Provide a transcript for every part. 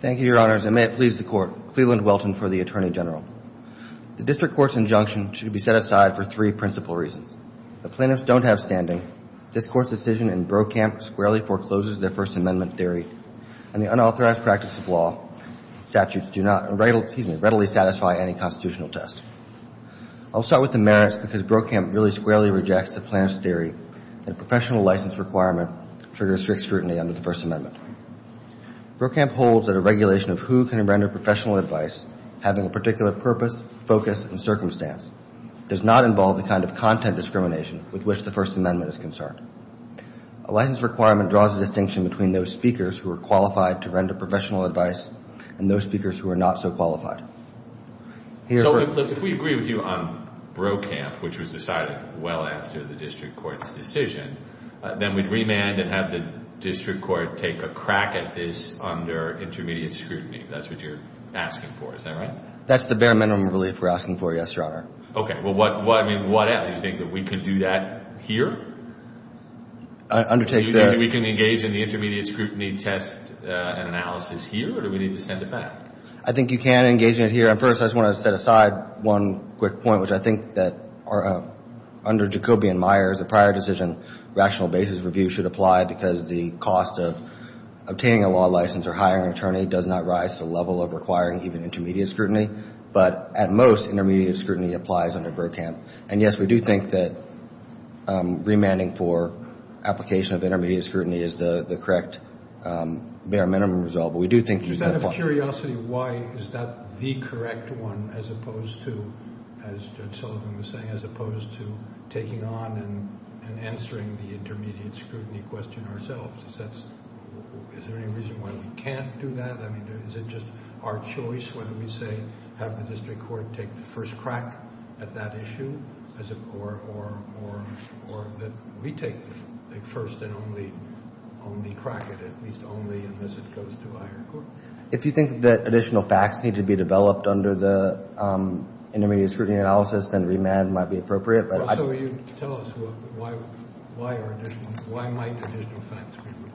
Thank you, Your Honors. And may it please the Court, Cleveland Welton for the Attorney General. The District Court's injunction should be set aside for three principal reasons. The plaintiffs don't have standing. This Court's decision in Brokamp squarely forecloses their First Amendment theory, and the unauthorized practice of law statutes do not, excuse me, readily satisfy any constitutional test. I'll start with the merits because Brokamp really squarely rejects the plaintiff's theory that a professional license requirement triggers strict scrutiny under the First Amendment. Brokamp holds that a regulation of who can render professional advice, having a particular purpose, focus, and circumstance, does not involve the kind of content discrimination with which the First Amendment is concerned. A license requirement draws a distinction between those speakers who are qualified to render professional advice and those speakers who are not so qualified. Here- So if we agree with you on Brokamp, which was decided well after the District Court's decision, then we'd remand and have the District Court take a crack at this under intermediate scrutiny. That's what you're asking for. Is that right? That's the bare minimum relief we're asking for, yes, Your Honor. Okay. Well, what, I mean, what else? Do you think that we could do that here? I undertake that- Do you think we can engage in the intermediate scrutiny test and analysis here, or do we need to send it back? I think you can engage in it here. And first, I just want to set aside one quick point, which I think that under Jacobian-Meyers, the prior decision, rational basis review should apply because the cost of obtaining a law license or hiring an attorney does not rise to the level of requiring even intermediate scrutiny, but at most intermediate scrutiny applies under Brokamp. And yes, we do think that remanding for application of intermediate scrutiny is the correct bare minimum result. But we do think- Just out of curiosity, why is that the correct one as opposed to, as Judge Sullivan was saying, as opposed to taking on and answering the intermediate scrutiny question ourselves? Is that's, is there any reason why we can't do that? I mean, is it just our choice whether we say, have the district court take the first crack at that issue, or that we take the first and only crack it, at least only unless it goes to a higher court? If you think that additional facts need to be developed under the intermediate scrutiny analysis, then remand might be appropriate. So you tell us why, why are additional, why might additional facts be required?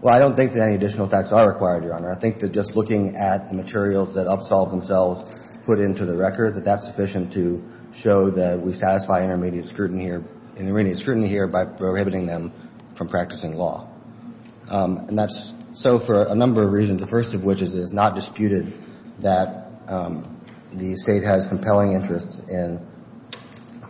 Well, I don't think that any additional facts are required, Your Honor. I think that just looking at the materials that Upsolve themselves put into the record, that that's sufficient to show that we satisfy intermediate scrutiny here, intermediate scrutiny here by prohibiting them from practicing law. And that's so for a number of reasons. The first of which is, it is not disputed that the state has compelling interests in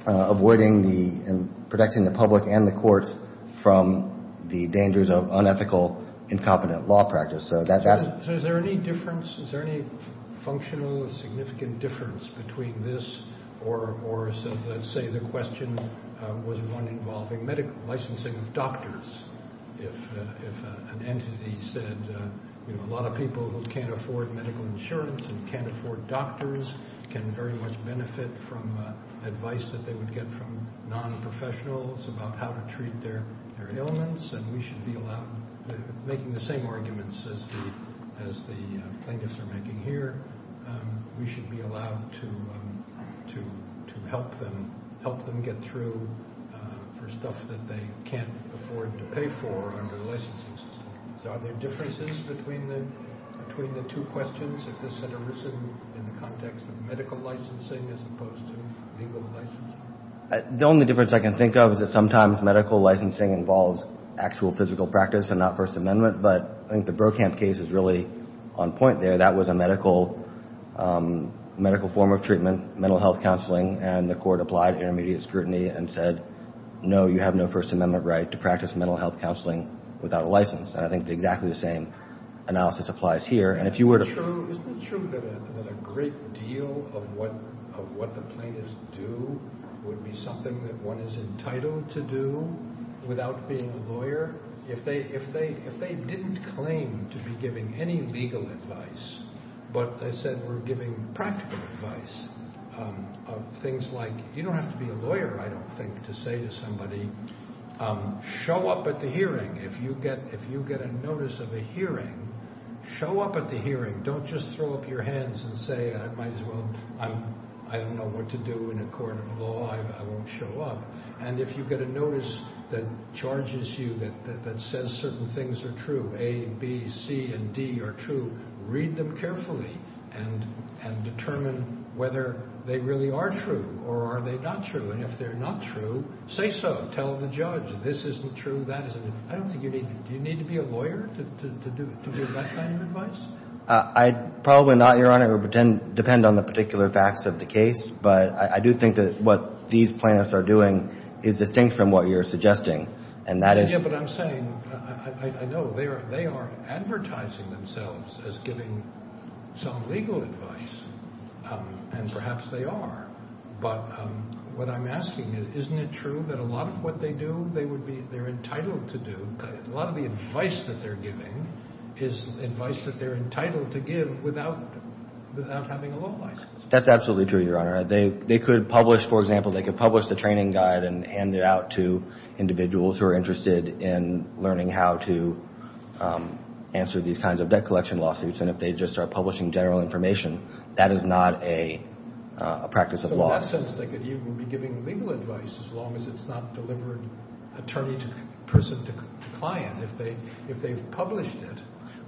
avoiding the, in protecting the public and the courts from the dangers of unethical, incompetent law practice. So that, that's. So is there any difference? Is there any functional or significant difference between this or, or so let's say the question was one involving medical licensing of doctors, if, if an entity said, you know, a lot of people who can't afford medical insurance and can't afford doctors can very much benefit from advice that they would get from non-professionals about how to treat their, their ailments. And we should be allowed, making the same arguments as the, as the plaintiffs are making here, we should be allowed to, to, to help them, help them get through for stuff that they can't afford to pay for under the licensing system. So are there differences between the, between the two questions? If this had arisen in the context of medical licensing as opposed to legal licensing? The only difference I can think of is that sometimes medical licensing involves actual physical practice and not first amendment. But I think the Brokamp case is really on point there. That was a medical, medical form of treatment, mental health counseling, and the court applied intermediate scrutiny and said, no, you have no first amendment right to practice mental health counseling without a license. And I think exactly the same analysis applies here. And if you were to... Isn't it true, isn't it true that a great deal of what, of what the plaintiffs do would be something that one is entitled to do without being a lawyer? If they, if they, if they didn't claim to be giving any legal advice, but they said we're giving practical advice of things like, you don't have to be a lawyer, I don't think, to say to somebody, show up at the hearing, if you get, if you get a notice of a hearing, show up at the hearing, don't just throw up your hands and say, I might as well, I, I don't know what to do in a court of law, I, I won't show up, and if you get a notice that charges you that, that, that says certain things are true, A, B, C, and D are true, read them carefully and, and determine whether they really are true or are they not true, and if they're not true, say so. Tell the judge, this isn't true, that isn't true. I don't think you need, do you need to be a lawyer to, to, to give that kind of advice? I'd probably not, your honor, depend on the particular facts of the case, but I, I do think that what these plaintiffs are doing is distinct from what you're suggesting, and that is. Yeah, but I'm saying, I, I, I know they are, they are advertising themselves as giving some legal advice and perhaps they are, but what I'm asking is, isn't it true that a lot of what they do, they would be, they're entitled to do, a lot of the advice that they're giving is advice that they're entitled to give without, without having a law license? That's absolutely true, your honor. They, they could publish, for example, they could publish the training guide and hand it out to individuals who are interested in learning how to answer these kinds of debt collection lawsuits, and if they just start publishing general information, that is not a, a practice of law. In that sense, they could even be giving legal advice as long as it's not delivered attorney to person to client, if they, if they've published it.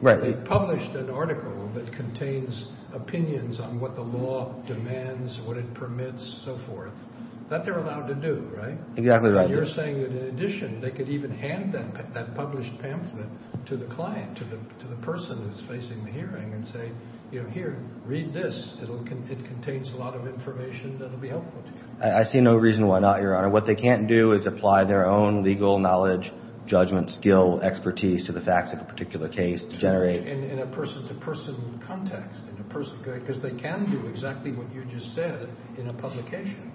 Right. They've published an article that contains opinions on what the law demands, what it permits, so forth, that they're allowed to do, right? Exactly right. You're saying that in addition, they could even hand that, that published pamphlet to the client, to the, to the person who's facing the hearing and say, you know, here, read this, it'll, it contains a lot of information that'll be helpful to you. I see no reason why not, your honor. What they can't do is apply their own legal knowledge, judgment, skill, expertise to the facts of a particular case to generate. In, in a person to person context, in a person, because they can do exactly what you just said in a publication.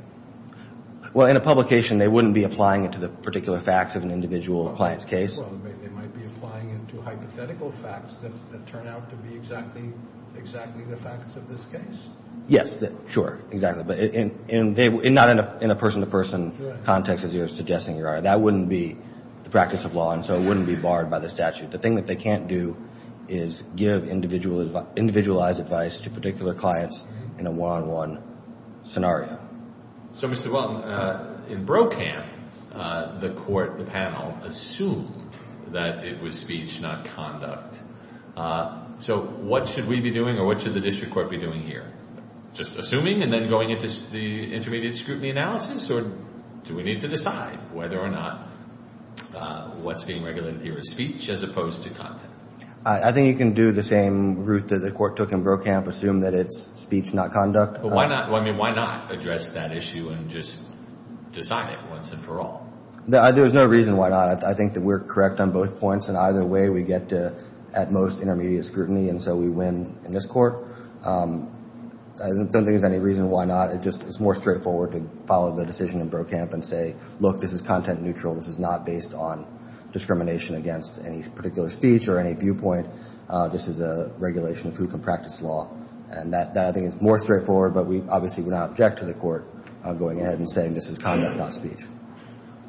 Well, in a publication, they wouldn't be applying it to the particular facts of an individual client's case. Well, they might be applying it to hypothetical facts that, that turn out to be exactly, exactly the facts of this case. Yes, sure. Exactly. But in, in, not in a, in a person to person context, as you're suggesting, your honor, that wouldn't be the practice of law. And so it wouldn't be barred by the statute. The thing that they can't do is give individual advice, individualized advice to particular clients in a one-on-one scenario. So, Mr. Welton, in Brokamp, the court, the panel, assumed that it was speech, not conduct. So what should we be doing, or what should the district court be doing here? Just assuming and then going into the intermediate scrutiny analysis, or do we need to decide whether or not what's being regulated here is speech, as opposed to content? I, I think you can do the same route that the court took in Brokamp, assume that it's speech, not conduct. But why not, I mean, why not address that issue and just decide it once and for all? There, there's no reason why not. I, I think that we're correct on both points. In either way, we get to, at most, intermediate scrutiny. And so we win in this court. I don't think there's any reason why not. It just, it's more straightforward to follow the decision in Brokamp and say, look, this is content neutral. This is not based on discrimination against any particular speech or any viewpoint. This is a regulation of who can practice law. And that, that I think is more straightforward, but we obviously would not object to the court going ahead and saying this is conduct, not speech.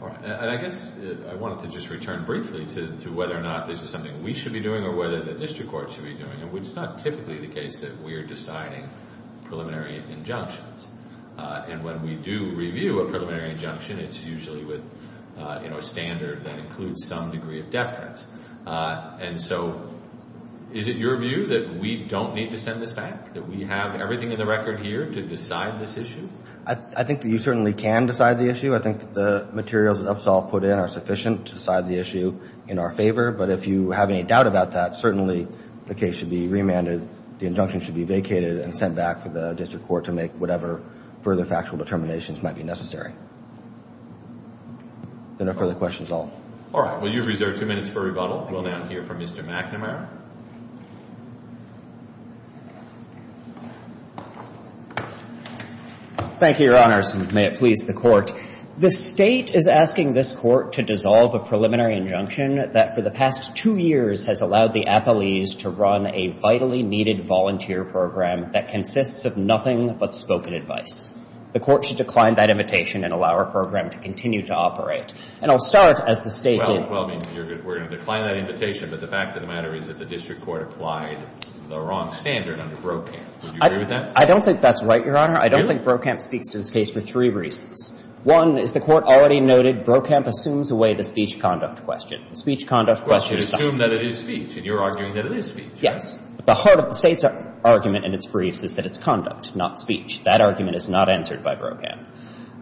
All right. And I guess I wanted to just return briefly to, to whether or not this is something we should be doing or whether the district court should be doing. And it's not typically the case that we're deciding preliminary injunctions. And when we do review a preliminary injunction, it's usually with, you know, a standard that includes some degree of deference. And so, is it your view that we don't need to send this back? That we have everything in the record here to decide this issue? I, I think that you certainly can decide the issue. I think the materials that Upsall put in are sufficient to decide the issue in our favor. But if you have any doubt about that, certainly the case should be remanded. The injunction should be vacated and sent back to the district court to make whatever further factual determinations might be necessary. No further questions at all. All right. Well, you've reserved two minutes for rebuttal. We'll now hear from Mr. McNamara. Thank you, Your Honors. And may it please the Court, the State is asking this Court to dissolve a preliminary injunction that for the past two years has allowed the appellees to run a vitally needed volunteer program that consists of nothing but spoken advice. The Court should decline that invitation and allow our program to continue to operate. And I'll start as the State did. Well, I mean, we're going to decline that invitation. But the fact of the matter is that the district court applied the wrong standard under Brokamp. Would you agree with that? I don't think that's right, Your Honor. I don't think Brokamp speaks to this case for three reasons. One is the Court already noted Brokamp assumes away the speech conduct question. The speech conduct question is not. Well, you assume that it is speech. And you're arguing that it is speech. Yes. But the heart of the State's argument in its briefs is that it's conduct, not speech. That argument is not answered by Brokamp.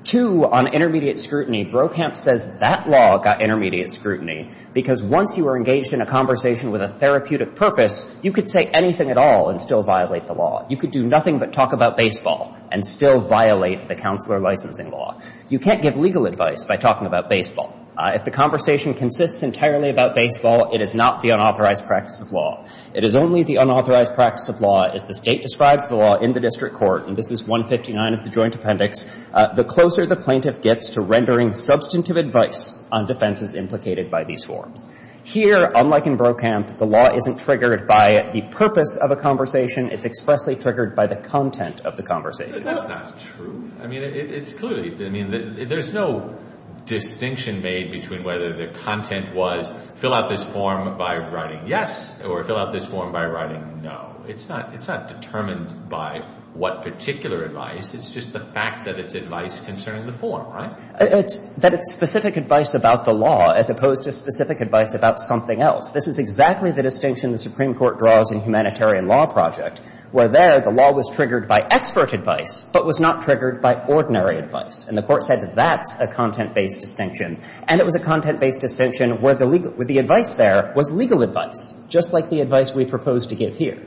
Two, on intermediate scrutiny, Brokamp says that law got intermediate scrutiny because once you are engaged in a conversation with a therapeutic purpose, you could say anything at all and still violate the law. You could do nothing but talk about baseball. And still violate the counselor licensing law. You can't give legal advice by talking about baseball. If the conversation consists entirely about baseball, it is not the unauthorized practice of law. It is only the unauthorized practice of law. As the State describes the law in the district court, and this is 159 of the Joint Appendix, the closer the plaintiff gets to rendering substantive advice on defenses implicated by these forms. Here, unlike in Brokamp, the law isn't triggered by the purpose of a conversation. It's expressly triggered by the content of the conversation. But that's not true. I mean, it's clearly, I mean, there's no distinction made between whether the content was fill out this form by writing yes or fill out this form by writing no. It's not determined by what particular advice. It's just the fact that it's advice concerning the form, right? It's that it's specific advice about the law as opposed to specific advice about something else. This is exactly the distinction the Supreme Court draws in Humanitarian Law Project, where there the law was triggered by expert advice, but was not triggered by ordinary advice. And the Court said that that's a content-based distinction. And it was a content-based distinction where the legal, where the advice there was legal advice, just like the advice we propose to give here.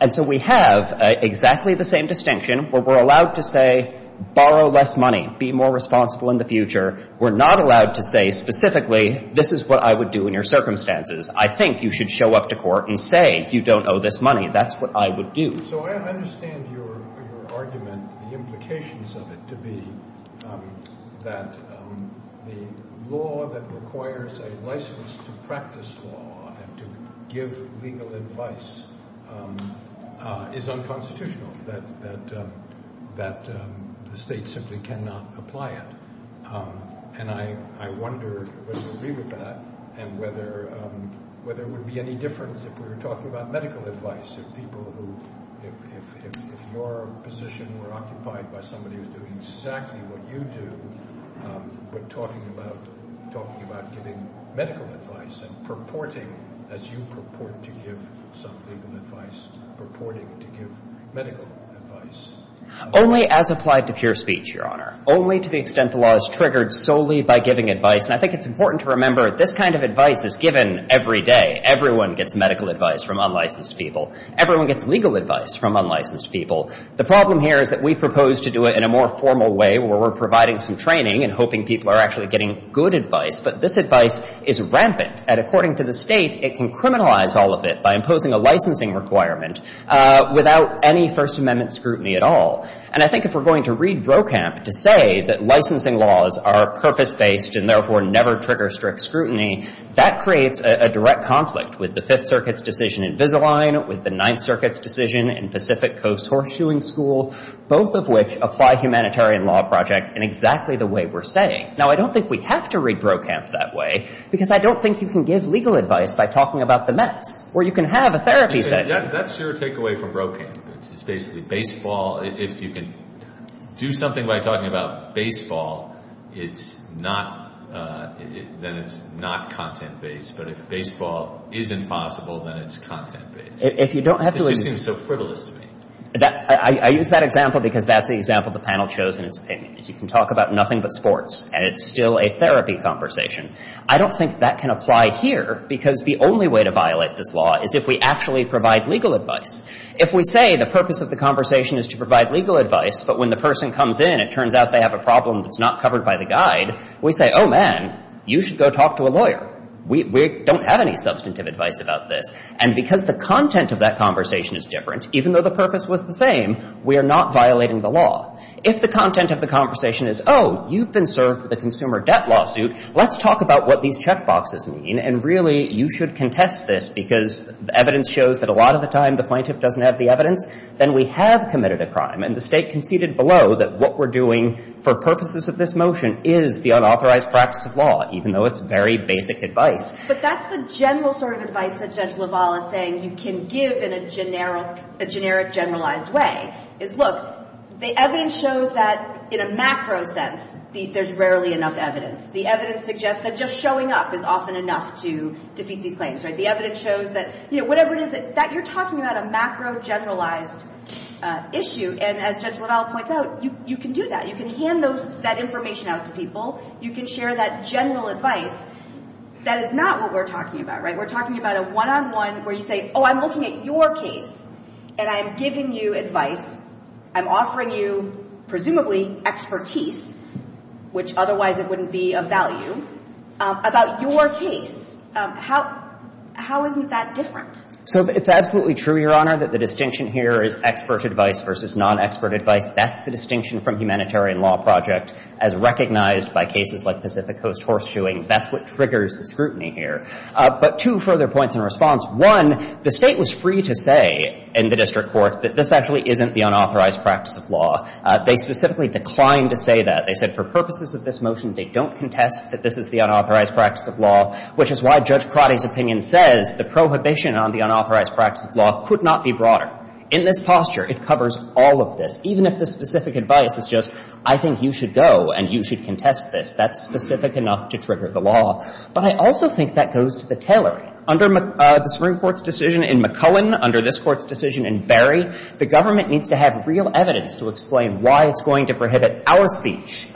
And so we have exactly the same distinction where we're allowed to say borrow less money, be more responsible in the future. We're not allowed to say specifically, this is what I would do in your circumstances. I think you should show up to court and say, you don't owe this money. That's what I would do. So I understand your argument, the implications of it to be that the law that requires a license to practice law and to give legal advice is unconstitutional, that the state simply cannot apply it. And I wonder whether you agree with that, and whether it would be any difference if we were talking about medical advice, if people who, if your position were occupied by somebody who's doing exactly what you do, but talking about giving medical advice and purporting, as you purport to give some legal advice, purporting to give medical advice. Only as applied to pure speech, Your Honor. Only to the extent the law is triggered solely by giving advice. And I think it's important to remember this kind of advice is given every day. Everyone gets medical advice from unlicensed people. Everyone gets legal advice from unlicensed people. The problem here is that we propose to do it in a more formal way where we're providing some training and hoping people are actually getting good advice. But this advice is rampant. And according to the state, it can criminalize all of it by imposing a licensing requirement without any First Amendment scrutiny at all. And I think if we're going to read Brokamp to say that licensing laws are purpose-based and therefore never trigger strict scrutiny, that creates a direct conflict with the Fifth Circuit's decision in Visalign, with the Ninth Circuit's decision in Pacific Coast Horseshoeing School, both of which apply humanitarian law projects in exactly the way we're saying. Now, I don't think we have to read Brokamp that way, because I don't think you can give legal advice by talking about the Mets, or you can have a therapy session. That's your takeaway from Brokamp. It's basically baseball. If you can do something by talking about baseball, then it's not content-based. But if baseball is impossible, then it's content-based. If you don't have to listen to me. It just seems so frivolous to me. I use that example because that's the example the panel chose in its opinions. You can talk about nothing but sports, and it's still a therapy conversation. I don't think that can apply here, because the only way to violate this law is if we actually provide legal advice. If we say the purpose of the conversation is to provide legal advice, but when the person comes in, it turns out they have a problem that's not covered by the guide, we say, oh, man, you should go talk to a lawyer. We don't have any substantive advice about this. And because the content of that conversation is different, even though the purpose was the same, we are not violating the law. If the content of the conversation is, oh, you've been served with a consumer debt lawsuit, let's talk about what these checkboxes mean, and really, you should contest this, because evidence shows that a lot of the time the plaintiff doesn't have the evidence, then we have committed a crime. And the State conceded below that what we're doing for purposes of this motion is the unauthorized practice of law, even though it's very basic advice. But that's the general sort of advice that Judge LaValle is saying you can give in a generic generalized way. Is, look, the evidence shows that in a macro sense, there's rarely enough evidence. The evidence suggests that just showing up is often enough to defeat these claims, right? The evidence shows that, you know, whatever it is that you're talking about, a macro generalized issue, and as Judge LaValle points out, you can do that. You can hand that information out to people. You can share that general advice. That is not what we're talking about, right? We're talking about a one-on-one where you say, oh, I'm looking at your case, and I'm giving you advice. I'm offering you, presumably, expertise, which otherwise it wouldn't be of value, about your case. How isn't that different? So it's absolutely true, Your Honor, that the distinction here is expert advice versus non-expert advice. That's the distinction from humanitarian law project, as recognized by cases like Pacific Coast Horseshoeing. That's what triggers the scrutiny here. But two further points in response. One, the State was free to say in the district court that this actually isn't the unauthorized practice of law. They specifically declined to say that. They said for purposes of this motion, they don't contest that this is the unauthorized practice of law, which is why Judge Pratti's opinion says the prohibition on the unauthorized practice of law could not be broader. In this posture, it covers all of this. Even if the specific advice is just, I think you should go and you should contest this, that's specific enough to trigger the law. But I also think that goes to the tailoring. Under the Supreme Court's decision in McCohen, under this court's decision in Barry, the government needs to have real evidence to explain why it's going to prohibit our speech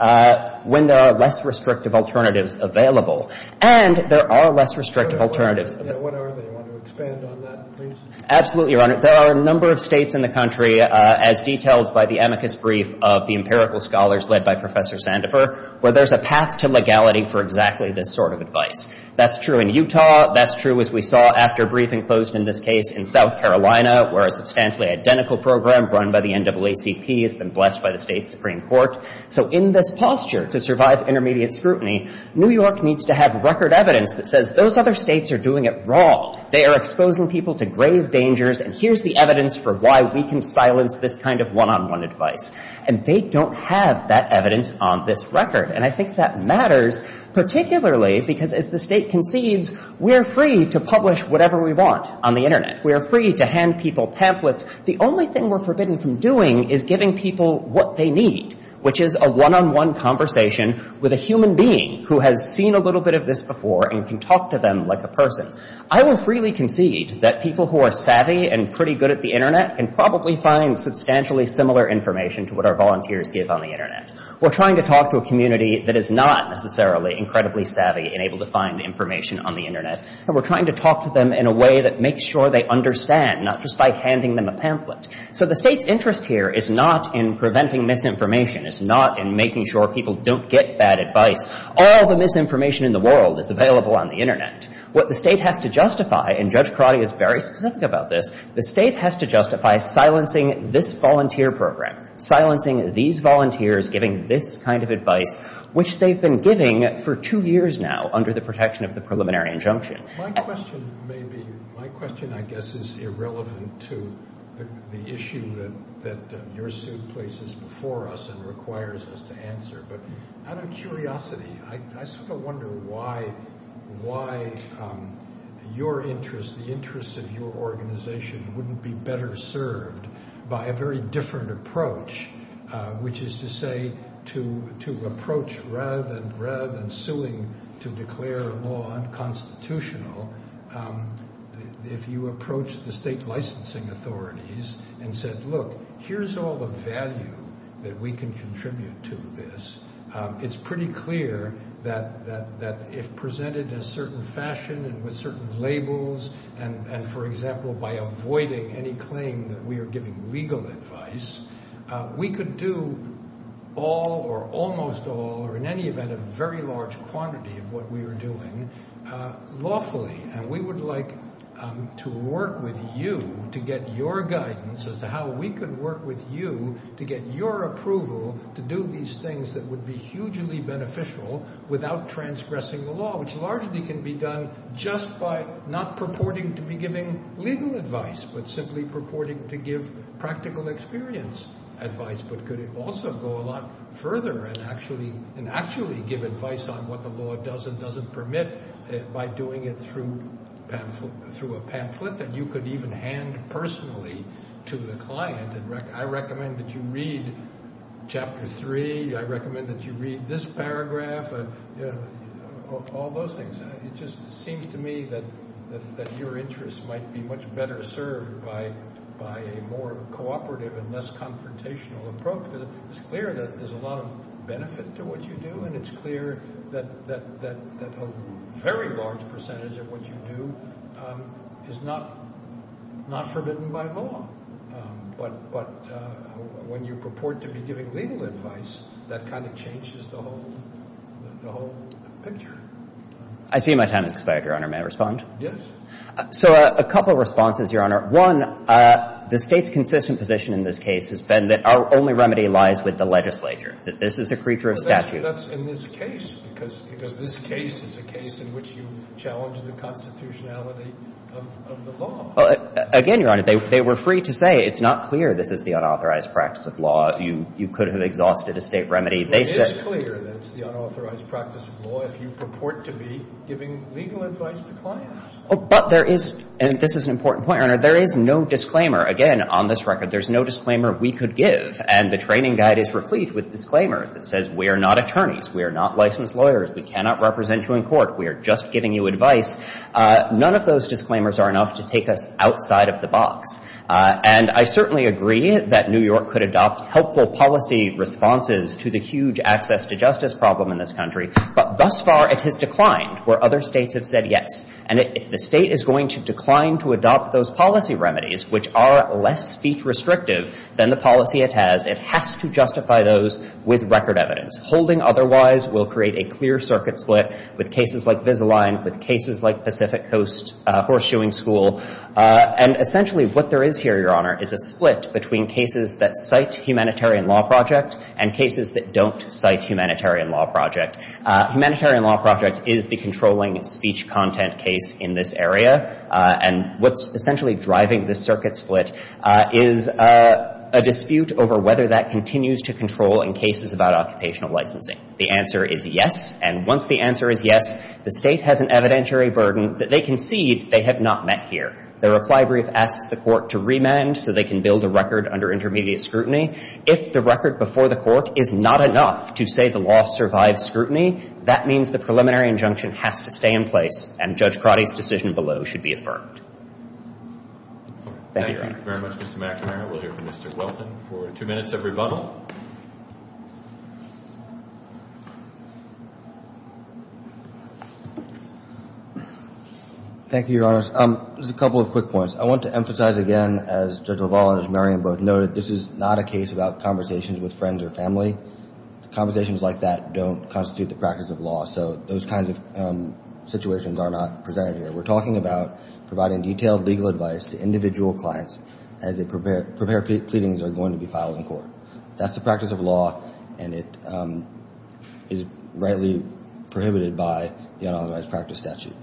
when there are less restrictive alternatives available. And there are less restrictive alternatives. Yeah, whenever they want to expand on that, please. Absolutely, Your Honor. There are a number of states in the country, as detailed by the amicus brief of the empirical scholars led by Professor Sandifer, where there's a path to legality for exactly this sort of advice. That's true in Utah. That's true, as we saw, after a briefing closed in this case in South Carolina, where a substantially identical program run by the NAACP has been blessed by the State Supreme Court. So in this posture, to survive intermediate scrutiny, New York needs to have record evidence that says those other states are doing it wrong. They are exposing people to grave dangers, and here's the evidence for why we can silence this kind of one-on-one advice. And they don't have that evidence on this record. And I think that matters, particularly because, as the state concedes, we are free to publish whatever we want on the internet. We are free to hand people pamphlets. The only thing we're forbidden from doing is giving people what they need, which is a one-on-one conversation with a human being who has seen a little bit of this before and can talk to them like a person. I will freely concede that people who are savvy and pretty good at the internet can probably find substantially similar information to what our volunteers give on the internet. We're trying to talk to a community that is not necessarily incredibly savvy and able to find information on the internet, and we're trying to talk to them in a way that makes sure they understand, not just by handing them a pamphlet. So the State's interest here is not in preventing misinformation. It's not in making sure people don't get bad advice. All the misinformation in the world is available on the internet. What the State has to justify, and Judge Crotty is very specific about this, the State has to justify silencing this volunteer program, silencing these volunteers giving this kind of advice, which they've been giving for two years now under the protection of the preliminary injunction. My question may be, my question I guess is irrelevant to the issue that your suit places before us and requires us to answer, but out of curiosity, I sort of wonder why your interest, the interest of your organization wouldn't be better served by a very different approach, which is to say, to approach rather than suing to declare a law unconstitutional, if you approach the State licensing authorities and said, look, here's all the value that we can contribute to this. It's pretty clear that if presented in a certain fashion and with certain labels, and for example, by avoiding any claim that we are giving legal advice, we could do all or almost all, or in any event, a very large quantity of what we are doing lawfully. And we would like to work with you to get your guidance as to how we could work with you to get your approval to do these things that would be hugely beneficial without transgressing the law, which largely can be done just by not purporting to be giving legal advice, but simply purporting to give practical experience advice, but could also go a lot further and actually give advice on what the law does and doesn't permit by doing it through a pamphlet that you could even hand personally to the client. I recommend that you read Chapter 3. I recommend that you read this paragraph, all those things. It just seems to me that your interest might be much better served by a more cooperative and less confrontational approach. It's clear that there's a lot of benefit to what you do, and it's clear that a very large percentage of what you do is not forbidden by law. But when you purport to be giving legal advice, that kind of changes the whole picture. I see my time has expired, Your Honor. May I respond? Yes. So a couple of responses, Your Honor. One, the State's consistent position in this case has been that our only remedy lies with the legislature, that this is a creature of statute. That's in this case, because this case is a case in which you challenge the constitutionality of the law. Again, Your Honor, they were free to say it's not clear this is the unauthorized practice of law. You could have exhausted a State remedy. It is clear that it's the unauthorized practice of law if you purport to be giving legal advice to clients. But there is, and this is an important point, Your Honor, there is no disclaimer. Again, on this record, there's no disclaimer we could give. And the training guide is replete with disclaimers that says we are not attorneys, we are not licensed lawyers, we cannot represent you in court, we are just giving you advice. None of those disclaimers are enough to take us outside of the box. And I certainly agree that New York could adopt helpful policy responses to the huge access to justice problem in this country. But thus far, it has declined where other States have said yes. And if the State is going to decline to adopt those policy remedies, which are less speech restrictive than the policy it has, it has to justify those with record evidence. Holding otherwise will create a clear circuit split with cases like Visalign, with cases like Pacific Coast Horseshoeing School. And essentially what there is here, Your Honor, is a split between cases that cite Humanitarian Law Project and cases that don't cite Humanitarian Law Project. Humanitarian Law Project is the controlling speech content case in this area. And what's essentially driving this circuit split is a dispute over whether that continues to control in cases about occupational licensing. The answer is yes. And once the answer is yes, the State has an evidentiary burden that they concede they have not met here. The reply brief asks the Court to remand so they can build a record under intermediate scrutiny. If the record before the Court is not enough to say the law survives scrutiny, that means the preliminary injunction has to stay in place and Judge Prate's decision below should be affirmed. Thank you, Your Honor. Thank you very much, Mr. McNamara. We'll hear from Mr. Welton for two minutes of rebuttal. Thank you, Your Honors. Just a couple of quick points. I want to emphasize again, as Judge LaValle and Judge Merriam both noted, this is not a case about conversations with friends or family. Conversations like that don't constitute the practice of law. So those kinds of situations are not presented here. We're talking about providing detailed legal advice to individual clients as they prepare pleadings that are going to be filed in court. That's the practice of law, and it is rightly prohibited by the unauthorized practice statute.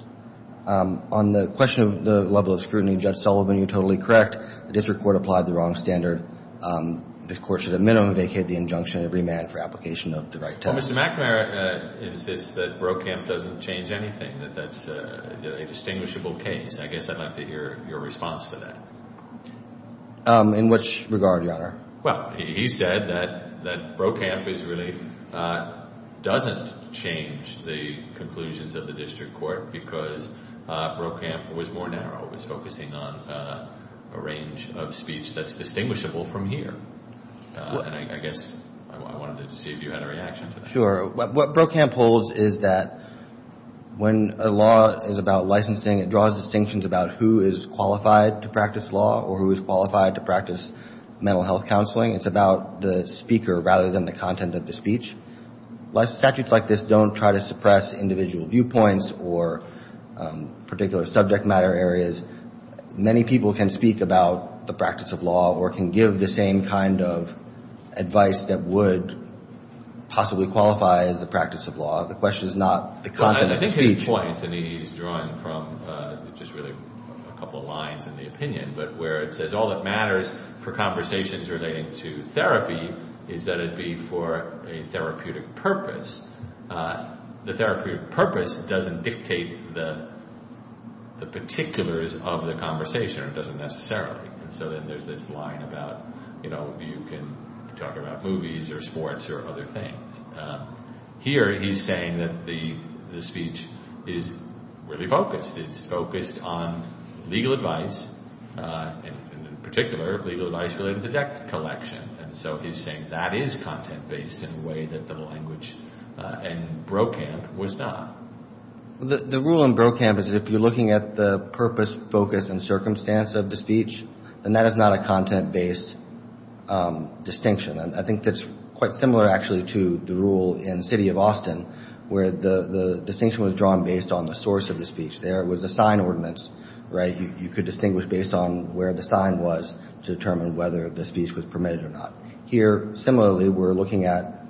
On the question of the level of scrutiny, Judge Sullivan, you're totally correct. The district court applied the wrong standard. The court should at minimum vacate the injunction and remand for application of the right term. Well, Mr. McNamara insists that Brokamp doesn't change anything, that that's a distinguishable case. I guess I'd like to hear your response to that. In which regard, Your Honor? Well, he said that Brokamp really doesn't change the conclusions of the district court because Brokamp was more narrow. The district court was focusing on a range of speech that's distinguishable from here. And I guess I wanted to see if you had a reaction to that. Sure. What Brokamp holds is that when a law is about licensing, it draws distinctions about who is qualified to practice law or who is qualified to practice mental health counseling. It's about the speaker rather than the content of the speech. Statutes like this don't try to suppress individual viewpoints or particular subject matter areas. Many people can speak about the practice of law or can give the same kind of advice that would possibly qualify as the practice of law. The question is not the content of the speech. I think his point, and he's drawing from just really a couple of lines in the opinion, but where it says all that matters for conversations relating to therapy is that it be for a therapeutic purpose. The therapeutic purpose doesn't dictate the particulars of the conversation or doesn't necessarily. And so then there's this line about, you know, you can talk about movies or sports or other things. Here he's saying that the speech is really focused. It's focused on legal advice and, in particular, legal advice related to debt collection. And so he's saying that is content-based in a way that the language in Brokamp was not. The rule in Brokamp is that if you're looking at the purpose, focus, and circumstance of the speech, then that is not a content-based distinction. I think that's quite similar, actually, to the rule in the city of Austin where the distinction was drawn based on the source of the speech. There was a sign ordinance, right? You could distinguish based on where the sign was to determine whether the speech was permitted or not. Here, similarly, we're looking at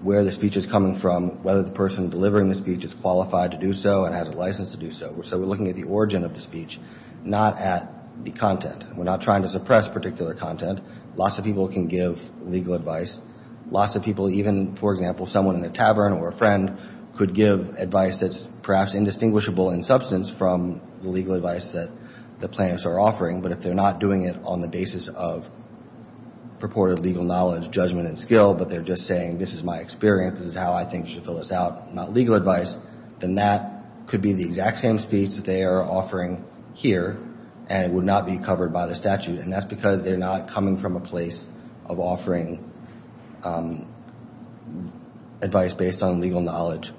where the speech is coming from, whether the person delivering the speech is qualified to do so and has a license to do so. So we're looking at the origin of the speech, not at the content. We're not trying to suppress particular content. Lots of people can give legal advice. Lots of people, even, for example, someone in a tavern or a friend, could give advice that's perhaps indistinguishable in substance from the legal advice that the plaintiffs are offering. But if they're not doing it on the basis of purported legal knowledge, judgment, and skill, but they're just saying this is my experience, this is how I think you should fill this out, not legal advice, then that could be the exact same speech that they are offering here, and it would not be covered by the statute. And that's because they're not coming from a place of offering advice based on legal knowledge,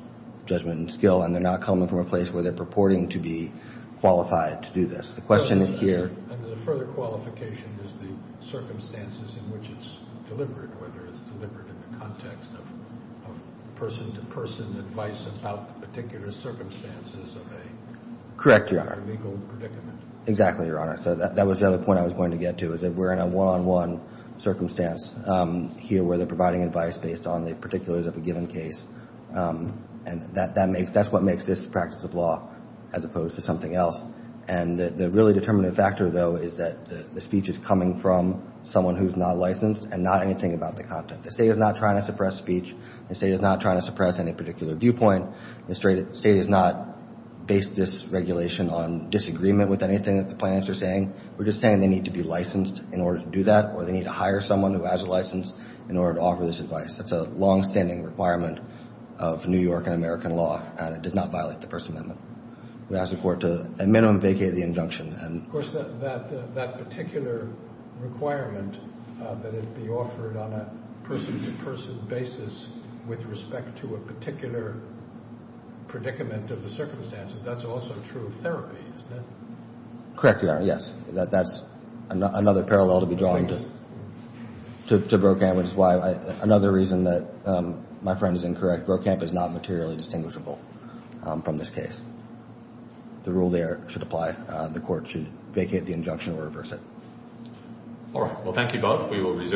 judgment, and skill, and they're not coming from a place where they're purporting to be qualified to do this. The question here— And the further qualification is the circumstances in which it's delivered, whether it's delivered in the context of person-to-person advice about particular circumstances of a— Correct, Your Honor. —legal predicament. Exactly, Your Honor. So that was the other point I was going to get to, is that we're in a one-on-one circumstance here where they're providing advice based on the particulars of a given case, and that's what makes this a practice of law as opposed to something else. And the really determinative factor, though, is that the speech is coming from someone who's not licensed and not anything about the content. The State is not trying to suppress speech. The State is not trying to suppress any particular viewpoint. The State is not based this regulation on disagreement with anything that the plaintiffs are saying. We're just saying they need to be licensed in order to do that, or they need to hire someone who has a license in order to offer this advice. That's a longstanding requirement of New York and American law, and it does not violate the First Amendment. We ask the Court to, at minimum, vacate the injunction. Of course, that particular requirement, that it be offered on a person-to-person basis with respect to a particular predicament of the circumstances, that's also true of therapy, isn't it? Correct, Your Honor, yes. That's another parallel to be drawn to Brokamp, which is why another reason that my friend is incorrect, Brokamp is not materially distinguishable from this case. The rule there should apply. The Court should vacate the injunction or reverse it. All right. Well, thank you, both.